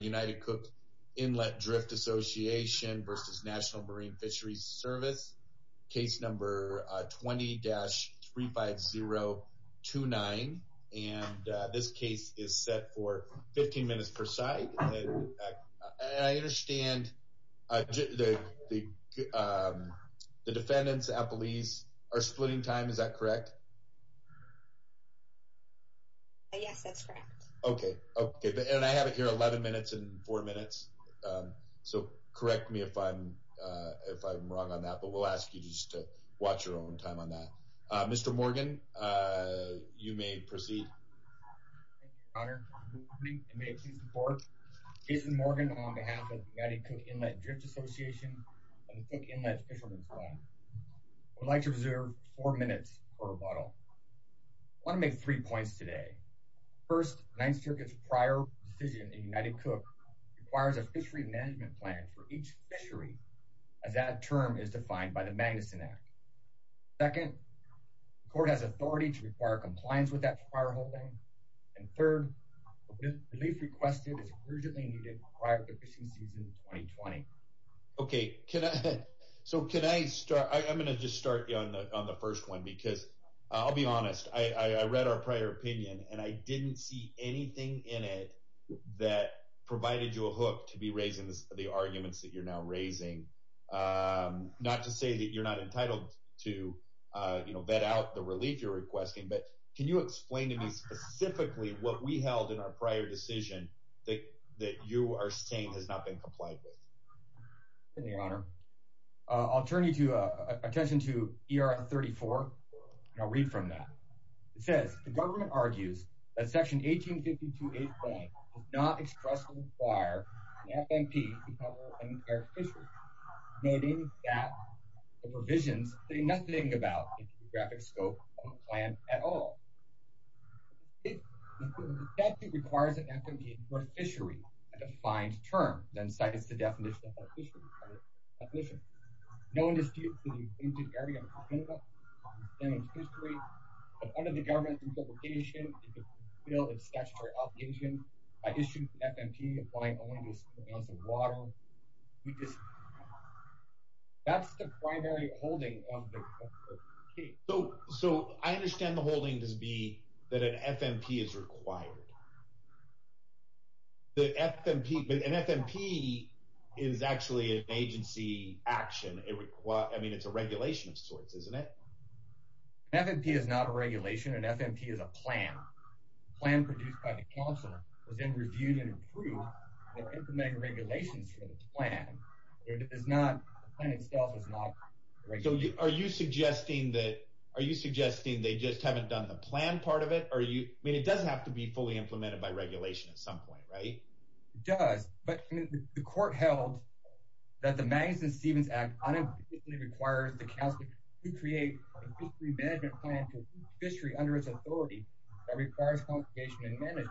United Cook Inlet Drift Association v. National Marine Fisheries Service, case number 20-35029. This case is set for 15 minutes per side. I understand the defendants, appellees are splitting time, is that correct? Yes, that's correct. Okay, okay, and I have it here 11 minutes and 4 minutes, so correct me if I'm wrong on that, but we'll ask you just to watch your own time on that. Mr. Morgan, you may proceed. Thank you, Your Honor. Good evening, and may it please the Court, Jason Morgan on behalf of the United Cook Inlet Drift Association and the Cook Inlet Fishermen's Fund. I would like to reserve 4 minutes for rebuttal. I want to make 3 points today. First, the Ninth Circuit's prior decision in United Cook requires a fishery management plan for each fishery, as that term is defined by the Magnuson Act. Second, the Court has authority to require compliance with that prior holding. And third, the relief requested is urgently needed prior to fishing season 2020. Okay, so can I start? I'm going to just start on the first one, because I'll be honest. I read our prior opinion, and I didn't see anything in it that provided you a hook to be raising the arguments that you're now raising. Not to say that you're not entitled to, you know, vet out the relief you're requesting, but can you explain to me specifically what we held in our prior decision that you are saying has not been complied with? Thank you, Your Honor. I'll turn your attention to ER 34, and I'll read from that. It says, the government argues that Section 1852A.1 does not expressly require an FMP to cover an entire fishery, noting that the provisions say nothing about the geographic scope of the plan at all. The statute requires an FMP to cover a fishery, a defined term, then cites the definition of a fishery. No dispute to the intended area of the continent and its fishery, but under the government's interpretation, it should fulfill its statutory obligation by issuing an FMP applying only to certain amounts of So, I understand the holding to be that an FMP is required. An FMP is actually an agency action. I mean, it's a regulation of sorts, isn't it? An FMP is not a regulation. An FMP is a plan. A plan produced by the Council is then reviewed and approved for implementing regulations for the plan. The plan itself is not a regulation. So, are you suggesting that they just haven't done the plan part of it? I mean, it does have to be fully implemented by regulation at some point, right? It does, but the court held that the Magnuson-Stevens Act unambiguously requires the Council to create a fishery management plan for a fishery under its ability that requires consultation and management.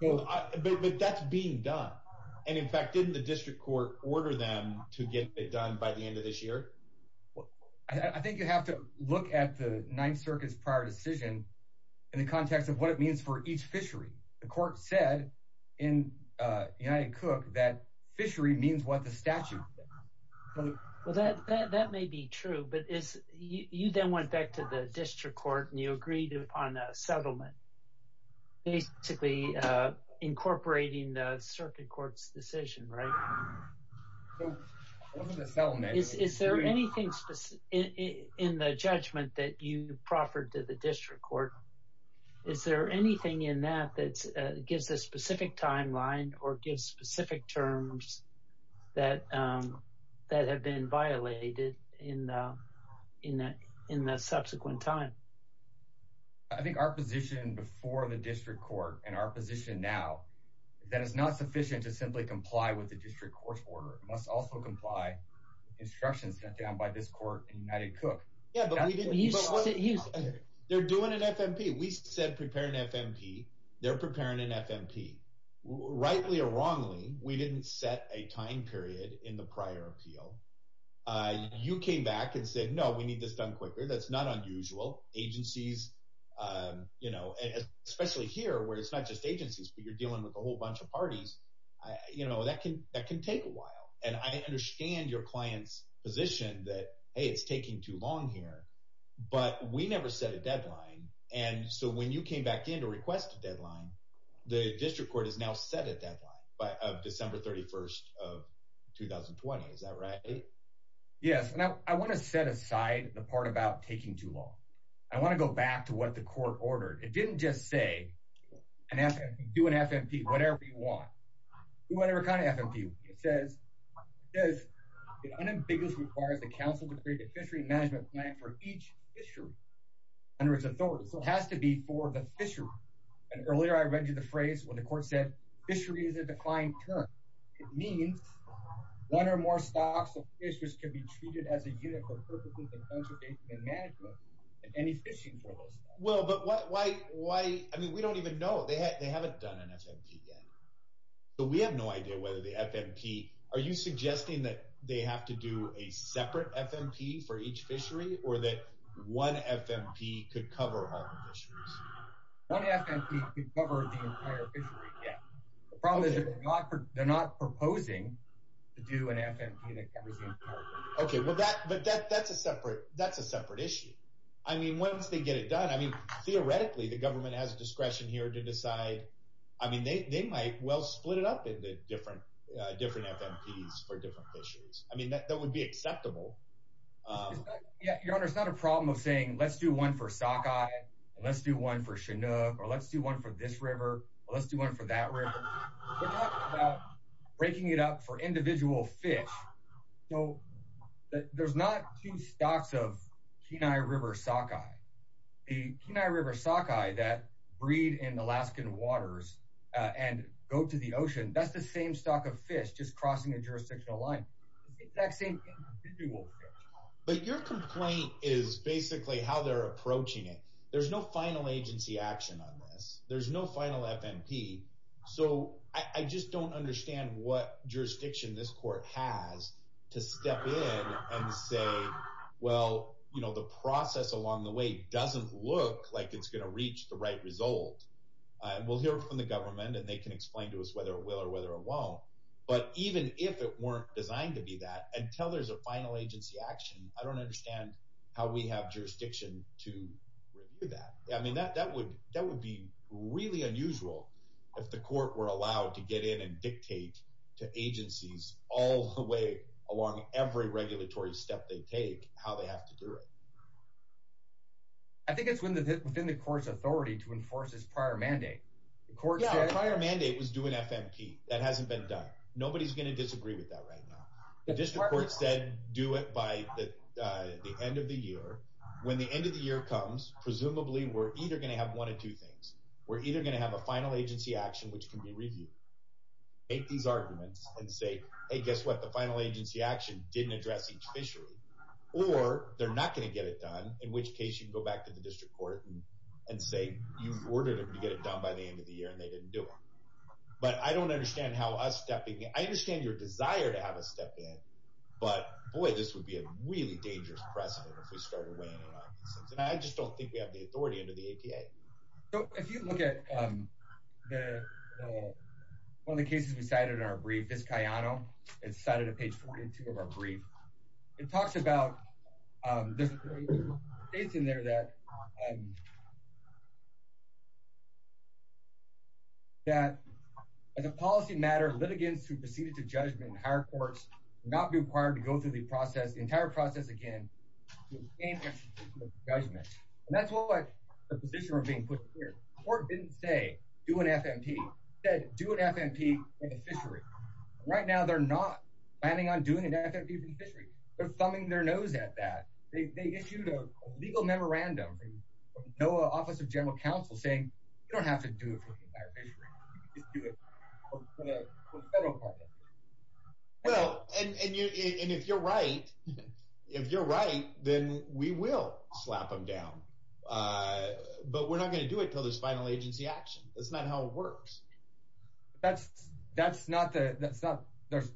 But that's being done. And in fact, didn't the district court order them to get it done by the end of this year? I think you have to look at the Ninth Circuit's prior decision in the context of what it means for each fishery. The court said in United Cook that fishery means what the statute says. Well, that may be true, but you then went back to the district court and you agreed upon a settlement, basically incorporating the circuit court's decision, right? It wasn't a settlement. Is there anything in the judgment that you proffered to the district court? Is there that have been violated in the subsequent time? I think our position before the district court and our position now, that it's not sufficient to simply comply with the district court's order. It must also comply with instructions set down by this court in United Cook. Yeah, but we didn't... They're doing an FMP. We said prepare an FMP. They're preparing an FMP. Rightly or wrongly, we didn't set a time period in the prior appeal. You came back and said, no, we need this done quicker. That's not unusual. Agencies, especially here where it's not just agencies, but you're dealing with a whole bunch of parties, that can take a while. And I understand your client's position that, hey, it's taking too long here, but we never set a deadline. And so when you came back in to request a deadline, the district court has now set a deadline of December 31st of 2020. Is that right? Yes. And I want to set aside the part about taking too long. I want to go back to what the court ordered. It didn't just say, do an FMP, whatever you want. Do whatever kind of FMP. It says, it unambiguous requires the council to create a fishery management plan for each fishery under its authority. So it has to be for the fishery. And earlier I read you the phrase when the court said, fishery is a defined term. It means one or more stocks of fishers can be treated as a unit for purpose of conservation and management of any fishing for those stocks. Well, but why, I mean, we don't even know. They haven't done an FMP yet. So we have no idea whether the FMP, are you suggesting that they have to do a separate FMP for each fishery or that one FMP could cover all the fisheries? One FMP could cover the entire fishery, yeah. The problem is they're not proposing to do an FMP that covers the entire fishery. Okay. Well, that's a separate issue. I mean, once they get it done, I mean, theoretically the government has discretion here to decide. I mean, they might well split it up into different FMPs for different fisheries. I mean, that would be acceptable. Your Honor, it's not a problem of saying, let's do one for Sockeye and let's do one for Chinook or let's do one for this river. Let's do one for that river. We're talking about breaking it up for individual fish. So there's not two stocks of Kenai River Sockeye. The Kenai River Sockeye that breed in Alaskan waters and go to the ocean, that's the same stock of fish that's just crossing a jurisdictional line. It's the exact same thing. But your complaint is basically how they're approaching it. There's no final agency action on this. There's no final FMP. So I just don't understand what jurisdiction this court has to step in and say, well, you know, the process along the way doesn't look like it's going to reach the right result. We'll hear from the government and they can explain to us whether it will or whether it won't. But even if it weren't designed to be that, until there's a final agency action, I don't understand how we have jurisdiction to review that. I mean, that would be really unusual if the court were allowed to get in and dictate to agencies all the way along every regulatory step they take how they have to do it. I think it's within the court's authority to enforce this prior mandate. Yeah, a prior mandate was do an FMP. That hasn't been done. Nobody's going to disagree with that right now. The district court said do it by the end of the year. When the end of the year comes, presumably we're either going to have one of two things. We're either going to have a final agency action which can be reviewed. Make these arguments and say, hey, guess what? The final agency action didn't address each fishery. Or they're not going to get it done, in which case you can go back to the district court and say you've got to get it done by the end of the year, and they didn't do it. But I don't understand how us stepping in. I understand your desire to have us step in, but boy, this would be a really dangerous precedent if we started weighing it out. And I just don't think we have the authority under the APA. So if you look at one of the cases we cited in our brief, this Cayano, it's cited at page 42 of our brief. It talks about, there's a statement in there that as a policy matter, litigants who proceeded to judgment in higher courts will not be required to go through the entire process again to obtain extrajudicial judgment. And that's what the position we're being put here. The court didn't say do an FMP. It said do an FMP for the fishery. Right now they're not planning on doing an FMP for the fishery. They're thumbing their nose at that. They issued a legal memorandum from NOAA Office of General Counsel saying you don't have to do it for the entire fishery. You can just do it for the federal part of it. Well, and if you're right, then we will slap them down. But we're not going to do it until there's final agency action. That's not how it works. That's not the, that's not, there's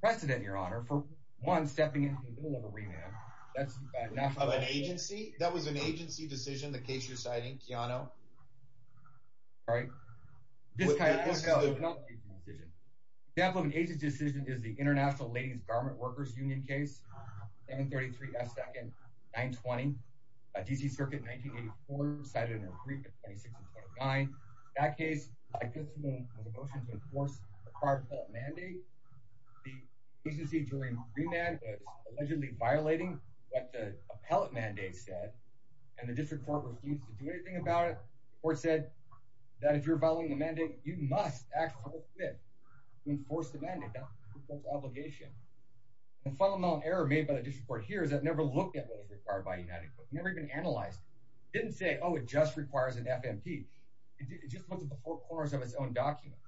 precedent, Your Honor, for one, stepping into the middle of a remand. Of an agency? That was an agency decision, the case you're citing, Cayano? All right. Let's go. The example of an agency decision is the International Ladies Garment Workers Union case, 733 F. 22nd, 920, D.C. Circuit, 1984, cited in their brief at 26.9. That case, like this one, had a motion to enforce a prior appellate mandate. The agency during remand was allegedly violating what the appellate mandate said, and the district court refused to do anything about it. The court said that if you're following the mandate, you must act to enforce the mandate. That's what the court said. It didn't say, oh, it just requires an FMP. It just looked at the four corners of its own document.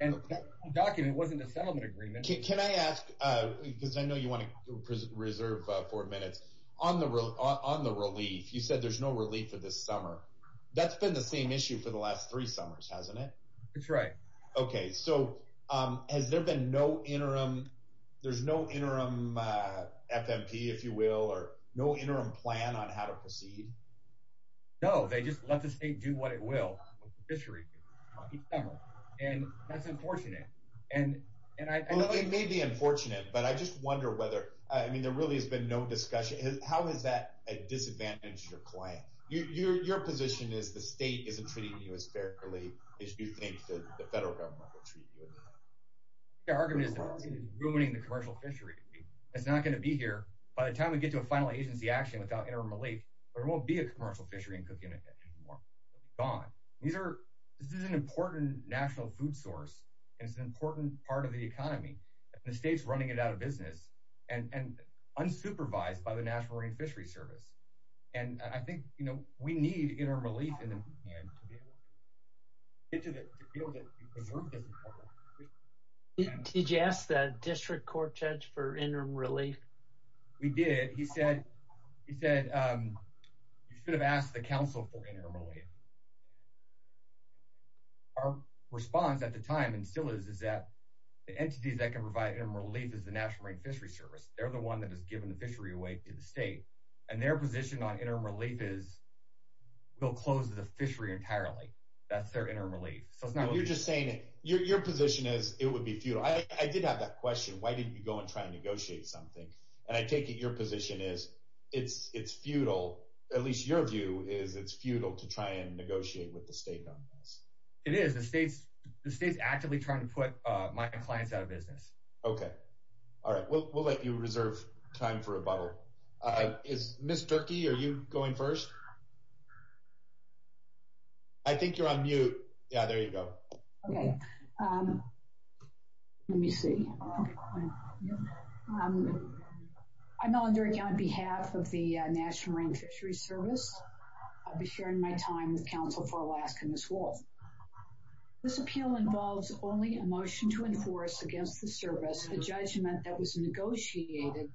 And that document wasn't a settlement agreement. Can I ask, because I know you want to reserve four minutes, on the relief, you said there's no relief for this summer. That's been the same issue for the last three summers, hasn't it? That's right. Okay. So has there been no interim, there's no interim FMP, if you will, or no interim plan on how to proceed? No. They just let the state do what it will. And that's unfortunate. Well, it may be unfortunate, but I just wonder whether, I mean, there really has been no discussion. How has that disadvantaged your claim? Your position is the state isn't treating you as fairly as you think the federal government will treat you? The argument is that it's ruining the commercial fishery. It's not going to be here. By the time we get to a final agency action without interim relief, there won't be a commercial fishery in Cook Inlet anymore. Gone. This is an important national food source. It's an important part of the economy. And the state's running it out of business and unsupervised by the National Marine Fishery Service. And I think, you know, we need interim relief in the meantime. Did you ask the district court judge for interim relief? We did. He said, he said, um, you should have asked the council for interim relief. Our response at the time and still is, is that the entities that can provide interim relief is the National Marine Fishery Service. They're the one that has given the fishery away to the state and their position on interim relief is, we'll close the fishery entirely. That's their interim relief. So it's not, you're just saying it, your, your position is it would be futile. I did have that question. Why didn't you go and try and negotiate something? And I take it. Your position is it's, it's futile. At least your view is it's futile to try and negotiate with the state on this. It is the state's, the state's actively trying to put my clients out of business. Okay. All right. We'll, we'll let you reserve time for a bubble. Uh, is Ms. Turkey, are you going first? I think you're on mute. Yeah, there you go. Okay. Um, let me see. Um, I'm Melinda on behalf of the National Marine Fishery Service. I'll be sharing my time with council for Alaska, Ms. Wolf. This appeal involves only a motion to enforce against the service, the judgment that was negotiated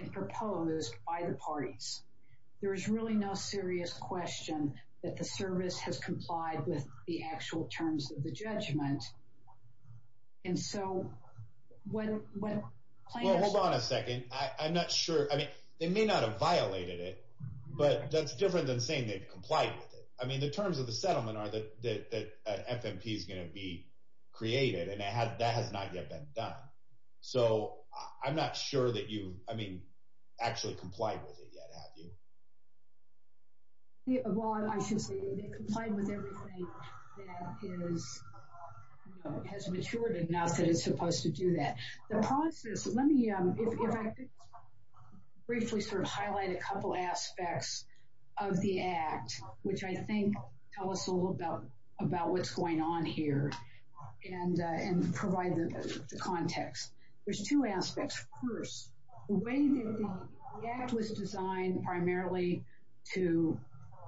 and proposed by the parties. There is really no serious question that the service has complied with the actual terms of the judgment. And so when, when plaintiffs... Well, hold on a second. I, I'm not sure. I mean, they may not have violated it, but that's different than saying they've complied with it. I mean, the terms of the settlement are that, that, that FMP is going to be created and that has not yet been done. So I'm not sure that you, I mean, actually complied with it yet, have you? Well, I should say they complied with everything that is, you know, has matured enough that it's supposed to do that. The process, let me, um, if I could briefly sort of highlight a couple aspects of the act, which I think tell us a little about what's going on here and provide the context. There's two aspects. First, the way that the act was designed primarily to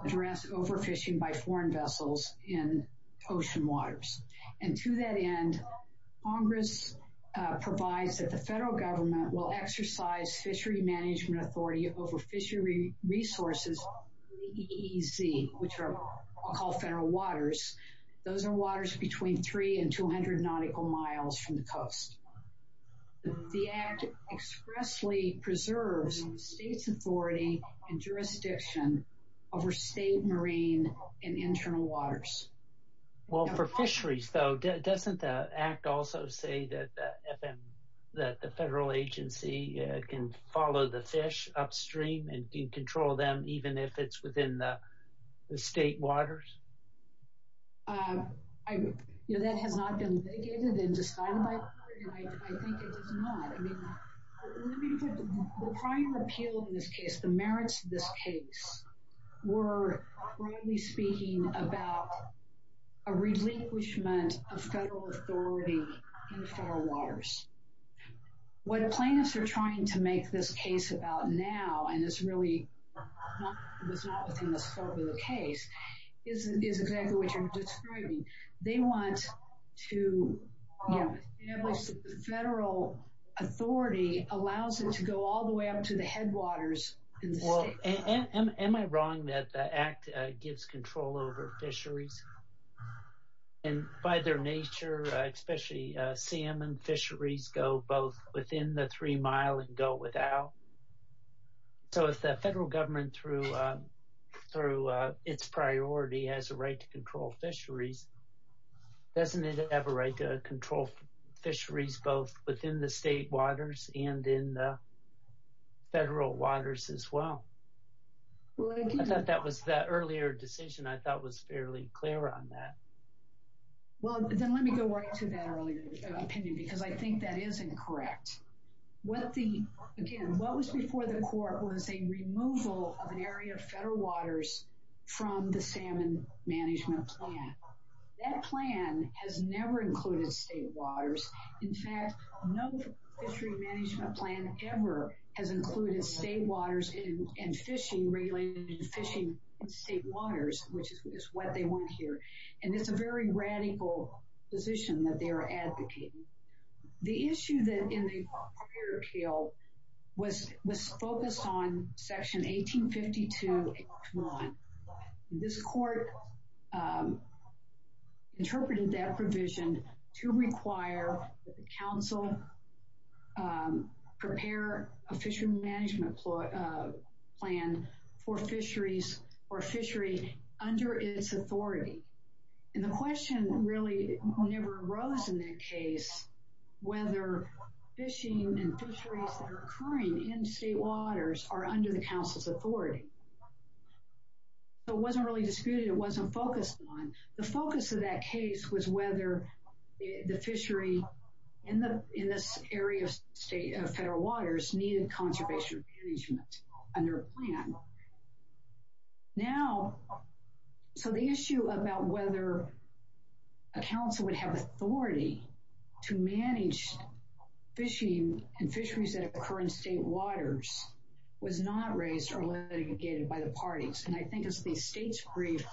address overfishing by foreign vessels in ocean waters. And to that end, Congress provides that the federal government will exercise fishery management authority over fishery resources, EEZ, which are called federal waters. Those are waters between three and 200 nautical miles from the coast. The act expressly preserves state's authority and jurisdiction over state marine and internal waters. Well, for fisheries though, doesn't the act also say that the federal agency can follow the fish upstream and can control them even if it's within the state waters? Um, I, you know, that has not been negated and I think it does not. I mean, let me put the prime appeal in this case, the merits of this case were broadly speaking about a relinquishment of federal authority in federal waters. What plaintiffs are trying to make this case about now, and it's really not within the scope of the case, is exactly what you're describing. They want to establish that the federal authority allows it to go all the way up to the headwaters in the state. Am I wrong that the act gives control over fisheries? And by their nature, especially salmon fisheries go both within the three mile and go without. So if the federal government through its priority has a right to control fisheries, doesn't it have a right to control fisheries both within the state waters and in the federal waters as well? That was the earlier decision I thought was fairly clear on that. Well, then let me go right to that earlier opinion because I think that is incorrect. What the, again, what was before the court was a removal of an area of federal waters from the salmon management plan. That plan has never included state waters. In fact, no fishery management plan ever has included state waters and fishing, regulated fishing in state waters, which is what they want here. And it's a very radical position that they are advocating. The issue that in the prior appeal was focused on section 1852. This court interpreted that provision to require the council prepare a fishery management plan for fisheries or fishery under its authority. And the question really never arose in that case whether fishing and fisheries that are occurring in state waters are under the council's authority. So it wasn't really disputed. It wasn't focused on. The focus of that case was whether the fishery in this area of federal waters needed conservation management under a plan. Now, so the issue about whether a council would have authority to manage fishing and fisheries that occur in state waters was not raised or litigated by the parties. And I think as the state's brief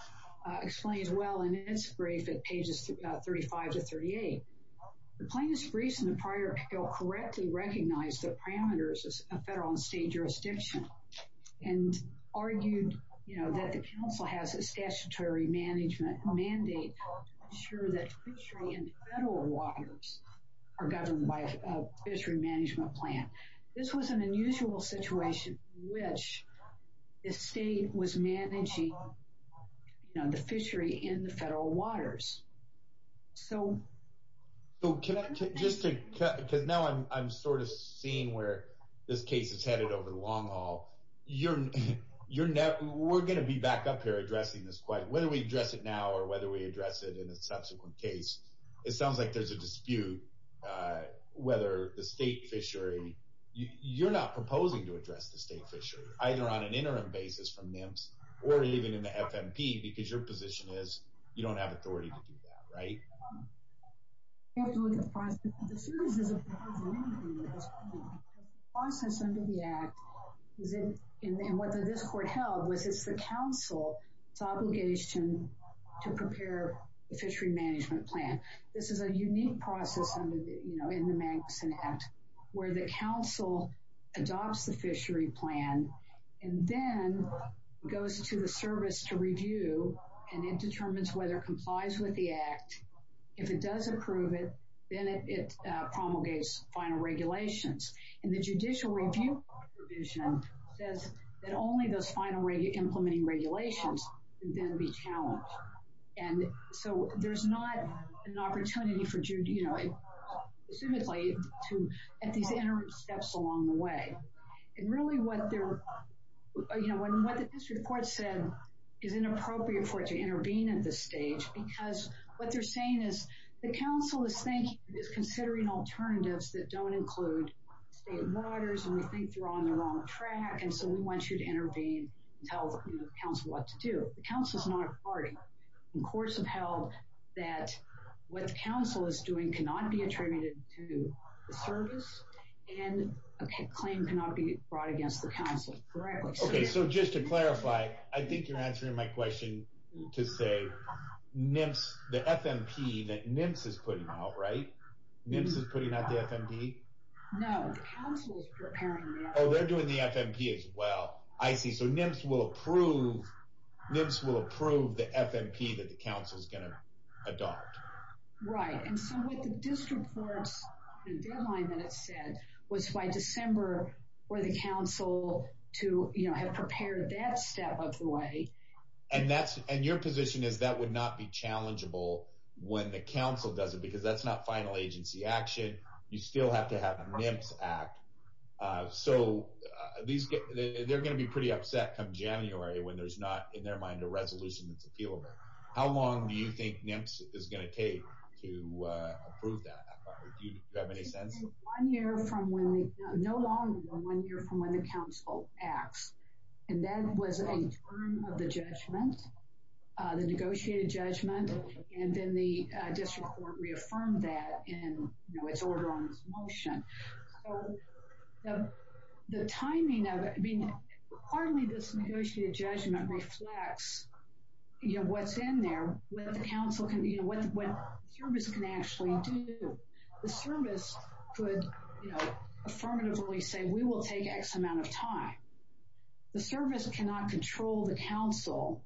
explains well in its brief at pages 35 to 38, the plaintiff's brief in the prior appeal correctly recognized the parameters of federal and state jurisdiction and argued that the council has a statutory management mandate to ensure that fishery in federal waters are governed by a fishery management plan. This was an unusual situation in which the state was managing the fishery in the federal waters. So can I just, because now I'm sort of seeing where this case is headed over the long haul, we're going to be back up here addressing this question, whether we address it now or whether we address it in a subsequent case. It sounds like there's a dispute whether the state fishery, you're not proposing to address the state fishery either on an interim basis from NIMS or even in the FMP because your position is you don't have authority to do that, right? The process under the act and what this court held was it's the council's obligation to prepare the fishery management plan. This is a unique process in the Magnuson Act where the council adopts the fishery plan and then goes to the service to review and it determines whether it complies with the act. If it does approve it, then it promulgates final regulations and the judicial review provision says that only those final implementing regulations can then be challenged and so there's not an opportunity for, you know, at these interim steps along the way. And really what the district court said is it's inappropriate for it to intervene at this stage because what they're saying is the council is considering alternatives that don't include state waters and we think they're on the wrong track and so we want you to intervene and tell the council what to do. The council is not a party. The courts have held that what the council is doing cannot be attributed to the service and a claim cannot be brought against the council. Okay, so just to clarify, I think you're answering my question to say NIMS, the FMP that NIMS is putting out, right? NIMS is putting out the FMP? No, the council is preparing the FMP. Oh, they're doing the FMP as well. I see. So NIMS will approve the FMP that the council is going to adopt. Right, and so what the district court's deadline that it said was by December for the council to have prepared that step of the way. And your position is that would not be challengeable when the council does it because that's not final agency action. You still have to have a NIMS act. They're going to be pretty upset come January when there's not in their mind a resolution that's appealable. How long do you think NIMS is going to take to approve that? Do you have any sense? No longer than one year from when the council acts. And that was a term of the judgment, the negotiated judgment, and then the district court reaffirmed that in its order on its motion. The timing of it, I mean, partly this negotiated judgment reflects what's in there, what the council can do, what the service can actually do. The service could, you know, affirmatively say we will take X amount of time. The service cannot control the council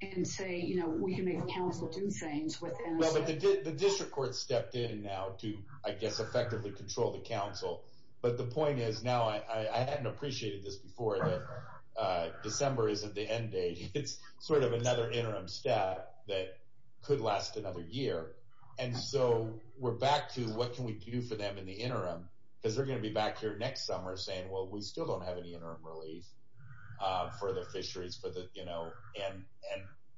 and say, you know, we can make the council do things with NSM. Well, but the district court stepped in now to, I guess, effectively control the council. But the point is now, I hadn't appreciated this before, that December isn't the end date. It's sort of another interim step that could last another year. And so we're back to what can we do for them in the interim? Because they're going to be back here next summer saying, well, we still don't have any interim relief for the fisheries, for the, you know, and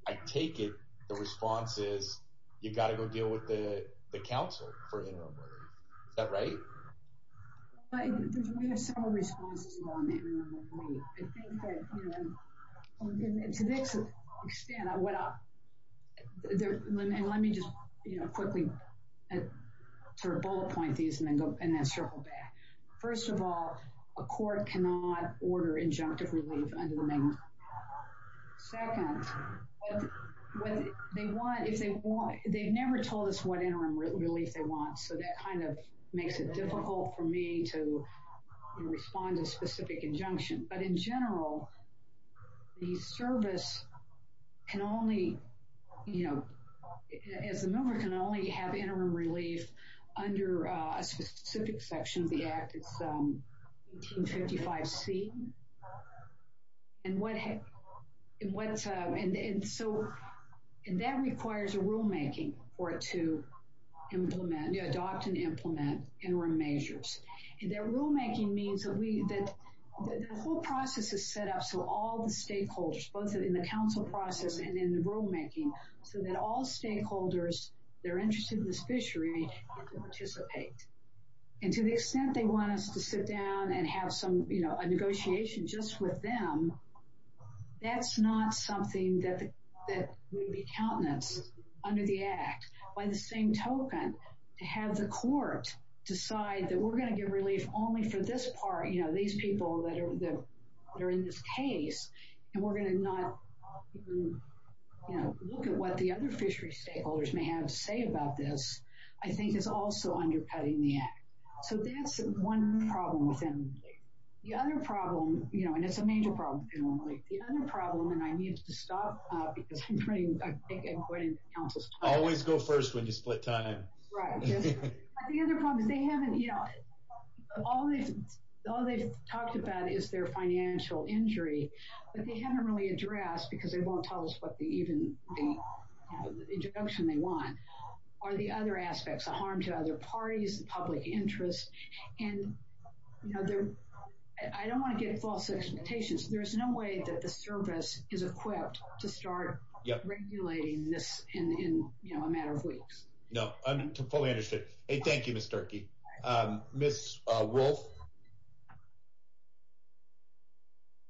I take it the response is you've got to go deal with the council for interim relief. Is that right? We have several responses on the interim relief. I think that, you know, to an extent, I would let me just, you know, quickly sort of bullet point these and then circle back. First of all, a court cannot order injunctive relief under the main law. Second, they've never told us what interim relief they want. So that kind of makes it difficult for me to respond to a specific injunction. But in general, the we, you know, as a member can only have interim relief under a specific section of the Act. It's 1855C. And so that requires a rulemaking for it to implement, adopt and implement interim measures. And that rulemaking means that the whole process is set up so all the stakeholders, both in the council process and in the rulemaking, so that all stakeholders that are interested in this fishery can participate. And to the extent they want us to sit down and have some, you know, a negotiation just with them, that's not something that would be countenance under the Act. By the same token, to have the court decide that we're going to give relief only for this part, you know, these people that are in this case, and we're going to not look at what the other fishery stakeholders may have to say about this, I think is also undercutting the Act. So that's one problem with them. The other problem, you know, and it's a major problem, the other problem, and I need to stop because I'm running, I think I'm running the council's time. Always go first when you split time. Right. The other problem is they haven't, you know, all they've talked about is their financial injury, but they haven't really addressed because they won't tell us what the even, the injunction they want are the other aspects, the harm to other parties, the public interest, and, you know, they're, I don't want to get false expectations. There's no way that the service is equipped to start regulating this in, you know, a matter of weeks. No, I'm fully understood. Thank you, Ms. Sturkey. Ms. Wolf.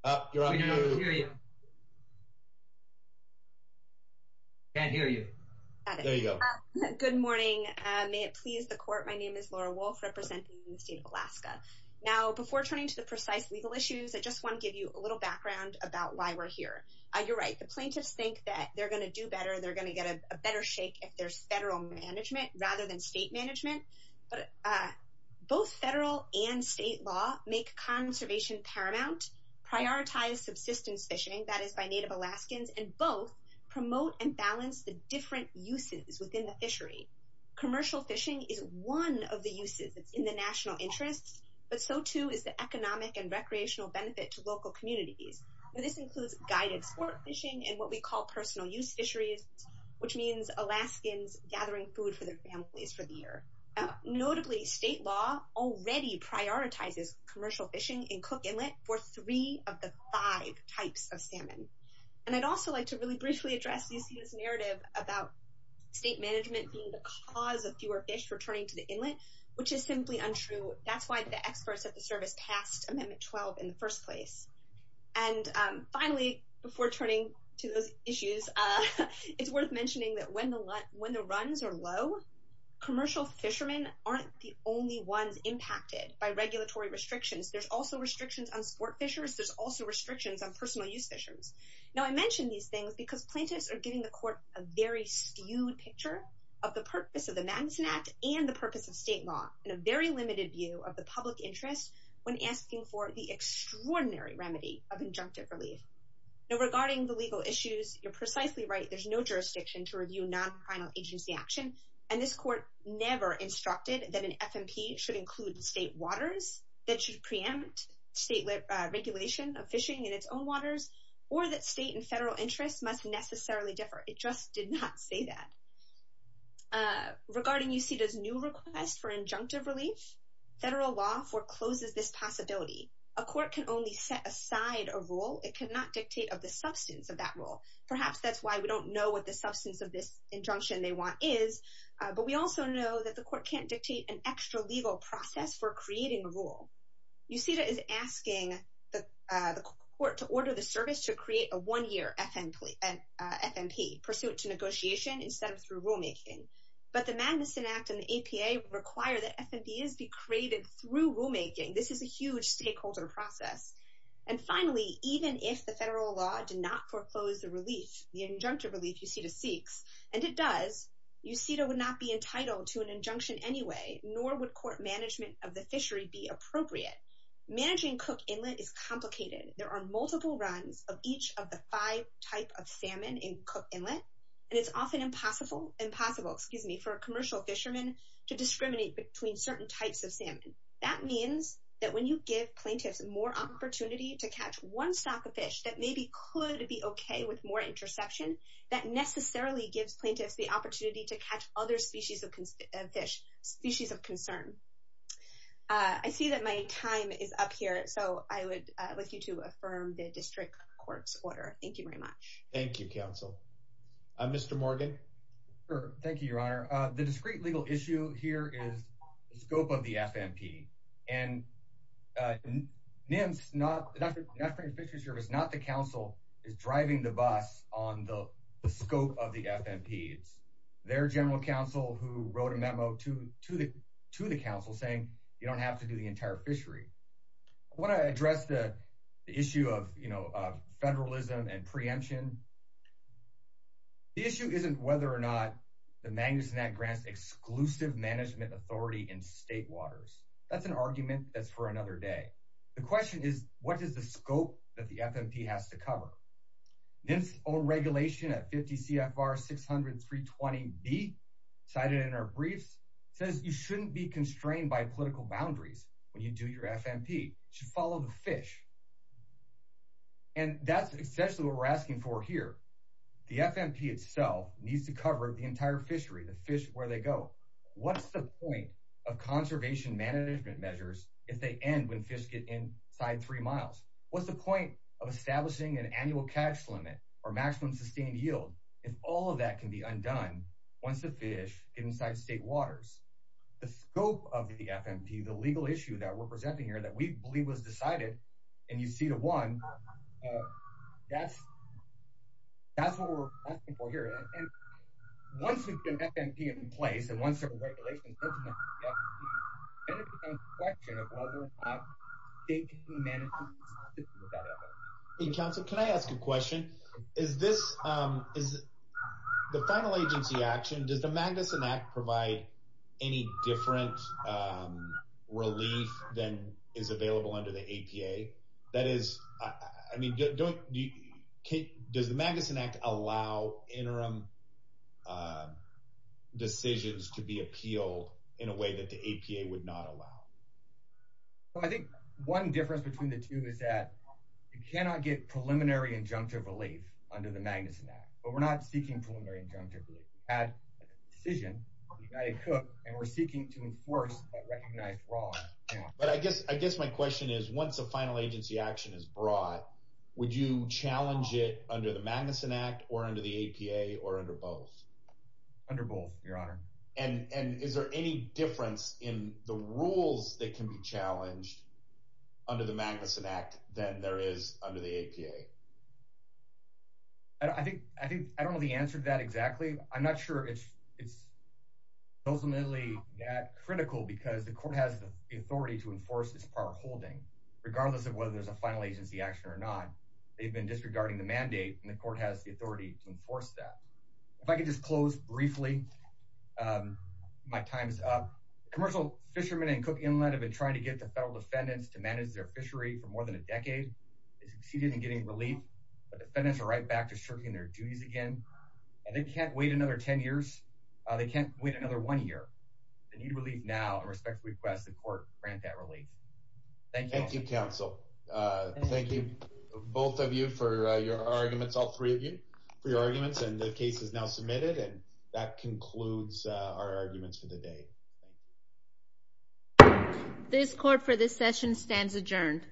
Oh, you're on mute. Can't hear you. There you go. Good morning. May it please the court, my name is Laura Wolf representing the state of Alaska. Now, before turning to the precise legal issues, I just want to give you a little background about why we're here. You're right, the plaintiffs think that they're going to do better, they're going to get a better shake if there's federal management rather than state management, but both federal and state law make conservation paramount, prioritize subsistence fishing, that is by Native Alaskans, and both promote and balance the different uses within the fishery. Commercial fishing is one of the uses that's in the national interest, but so too is the economic and recreational benefit to local communities. This includes guided sport fishing and what we call personal use fisheries, which means Alaskans gathering food for their families for the year. Notably state law already prioritizes commercial fishing and cook inlet for three of the five types of salmon. And I'd also like to really briefly address UC's narrative about state management being the cause of fewer fish returning to the inlet, which is simply untrue. That's why the experts at the service passed Amendment 12 in the first place. And finally, before turning to those issues, it's worth mentioning that when the runs are low, commercial fishermen aren't the only ones impacted by regulatory restrictions. There's also restrictions on sport fishers, there's also restrictions on personal use fishers. Now I mention these things because plaintiffs are giving the court a very skewed picture of the purpose of the Madison Act and the purpose of state law, and a very limited view of the public interest when asking for the extraordinary remedy of injunctive relief. Now regarding the legal issues, you're precisely right, there's no jurisdiction to review non-criminal agency action, and this court never instructed that an FMP should include state waters, that it should preempt state regulation of fishing in its own waters, or that state and federal interests must necessarily differ. It just did not say that. Regarding UCDA's new request for injunctive relief, federal law forecloses this possibility. A court can only set aside a rule, it cannot dictate of the substance of that rule. Perhaps that's why we don't know what the substance of this injunction they want is, but we also know that the court can't dictate an extra legal process for creating a rule. UCDA is asking the court to order the service to create a one-year FMP, pursuant to negotiation, instead of through rulemaking. But the Madison Act and the APA require that FMPs be created through rulemaking. This is a huge stakeholder process. And finally, even if the federal law did not foreclose the injunctive relief UCDA seeks, and it does, UCDA would not be entitled to an injunction anyway, nor would court management of the fishery be appropriate. Managing Cook Inlet is complicated. There are multiple runs of each of the five types of salmon in Cook Inlet, and it's often impossible for a commercial fisherman to discriminate between certain types of salmon. That means that when you give plaintiffs more opportunity to catch one stock of fish that maybe could be okay with more interception, that necessarily gives plaintiffs the opportunity to catch other species of concern. I see that my time is up here, so I would like you to affirm the District Court's order. Thank you very much. Mr. Morgan? Sure. Thank you, Your Honor. The discrete legal issue here is the scope of the FMP, and National Fisheries Service, not the council, is driving the bus on the scope of the FMP. It's their general counsel who wrote a memo to the council saying you don't have to do the entire fishery. I want to address the issue of federalism and preemption. The issue isn't whether or not the Magnuson Act grants exclusive management authority in state waters. That's an argument that's for another day. The question is, what is the scope that the FMP has to cover? NIMS' own regulation at 50 CFR 600-320B, cited in our briefs, says you shouldn't be constrained by political boundaries when you do your FMP. You should follow the fish. And that's essentially what we're asking for here. The FMP itself needs to cover the entire fishery, the fish, where they go. What's the point of conservation management measures if they end when fish get inside three miles? What's the point of establishing an annual catch limit or maximum sustained yield if all of that can be undone once the fish get inside state waters? The scope of the FMP, the legal issue that we're presenting here that we believe was decided, and you see the one, that's what we're asking for here. Once we get an FMP in place, and once there are regulations implemented, then it becomes a question of whether or not they can be managed with that effort. The final agency action, does the Magnuson Act provide any different relief than is available under the APA? Does the Magnuson Act allow interim decisions to be appealed in a way that the APA would not allow? I think one difference between the two is that you cannot get preliminary injunctive relief under the Magnuson Act. But we're not seeking preliminary injunctive relief. We've had a decision, and we're seeking to enforce that recognized wrong. I guess my question is, once a final agency action is brought, would you challenge it under the Magnuson Act or under the APA or under both? Under both, your honor. Is there any difference in the rules that can be challenged under the Magnuson Act than there is under the APA? I don't know the answer to that exactly. I'm not sure it's ultimately that the court has the authority to enforce this power of holding, regardless of whether there's a final agency action or not. They've been disregarding the mandate, and the court has the authority to enforce that. If I could just close briefly, my time is up. Commercial fishermen in Cook Inlet have been trying to get the federal defendants to manage their fishery for more than a decade. They've succeeded in getting relief, but the defendants are right back to shirking their duties again. They can't wait another 10 years. They can't wait another one year. They need relief now, and I respectfully request the court grant that relief. Thank you, counsel. Thank you, both of you, for your arguments, all three of you, for your arguments, and the case is now submitted. And that concludes our arguments for the day. This court for this session stands adjourned.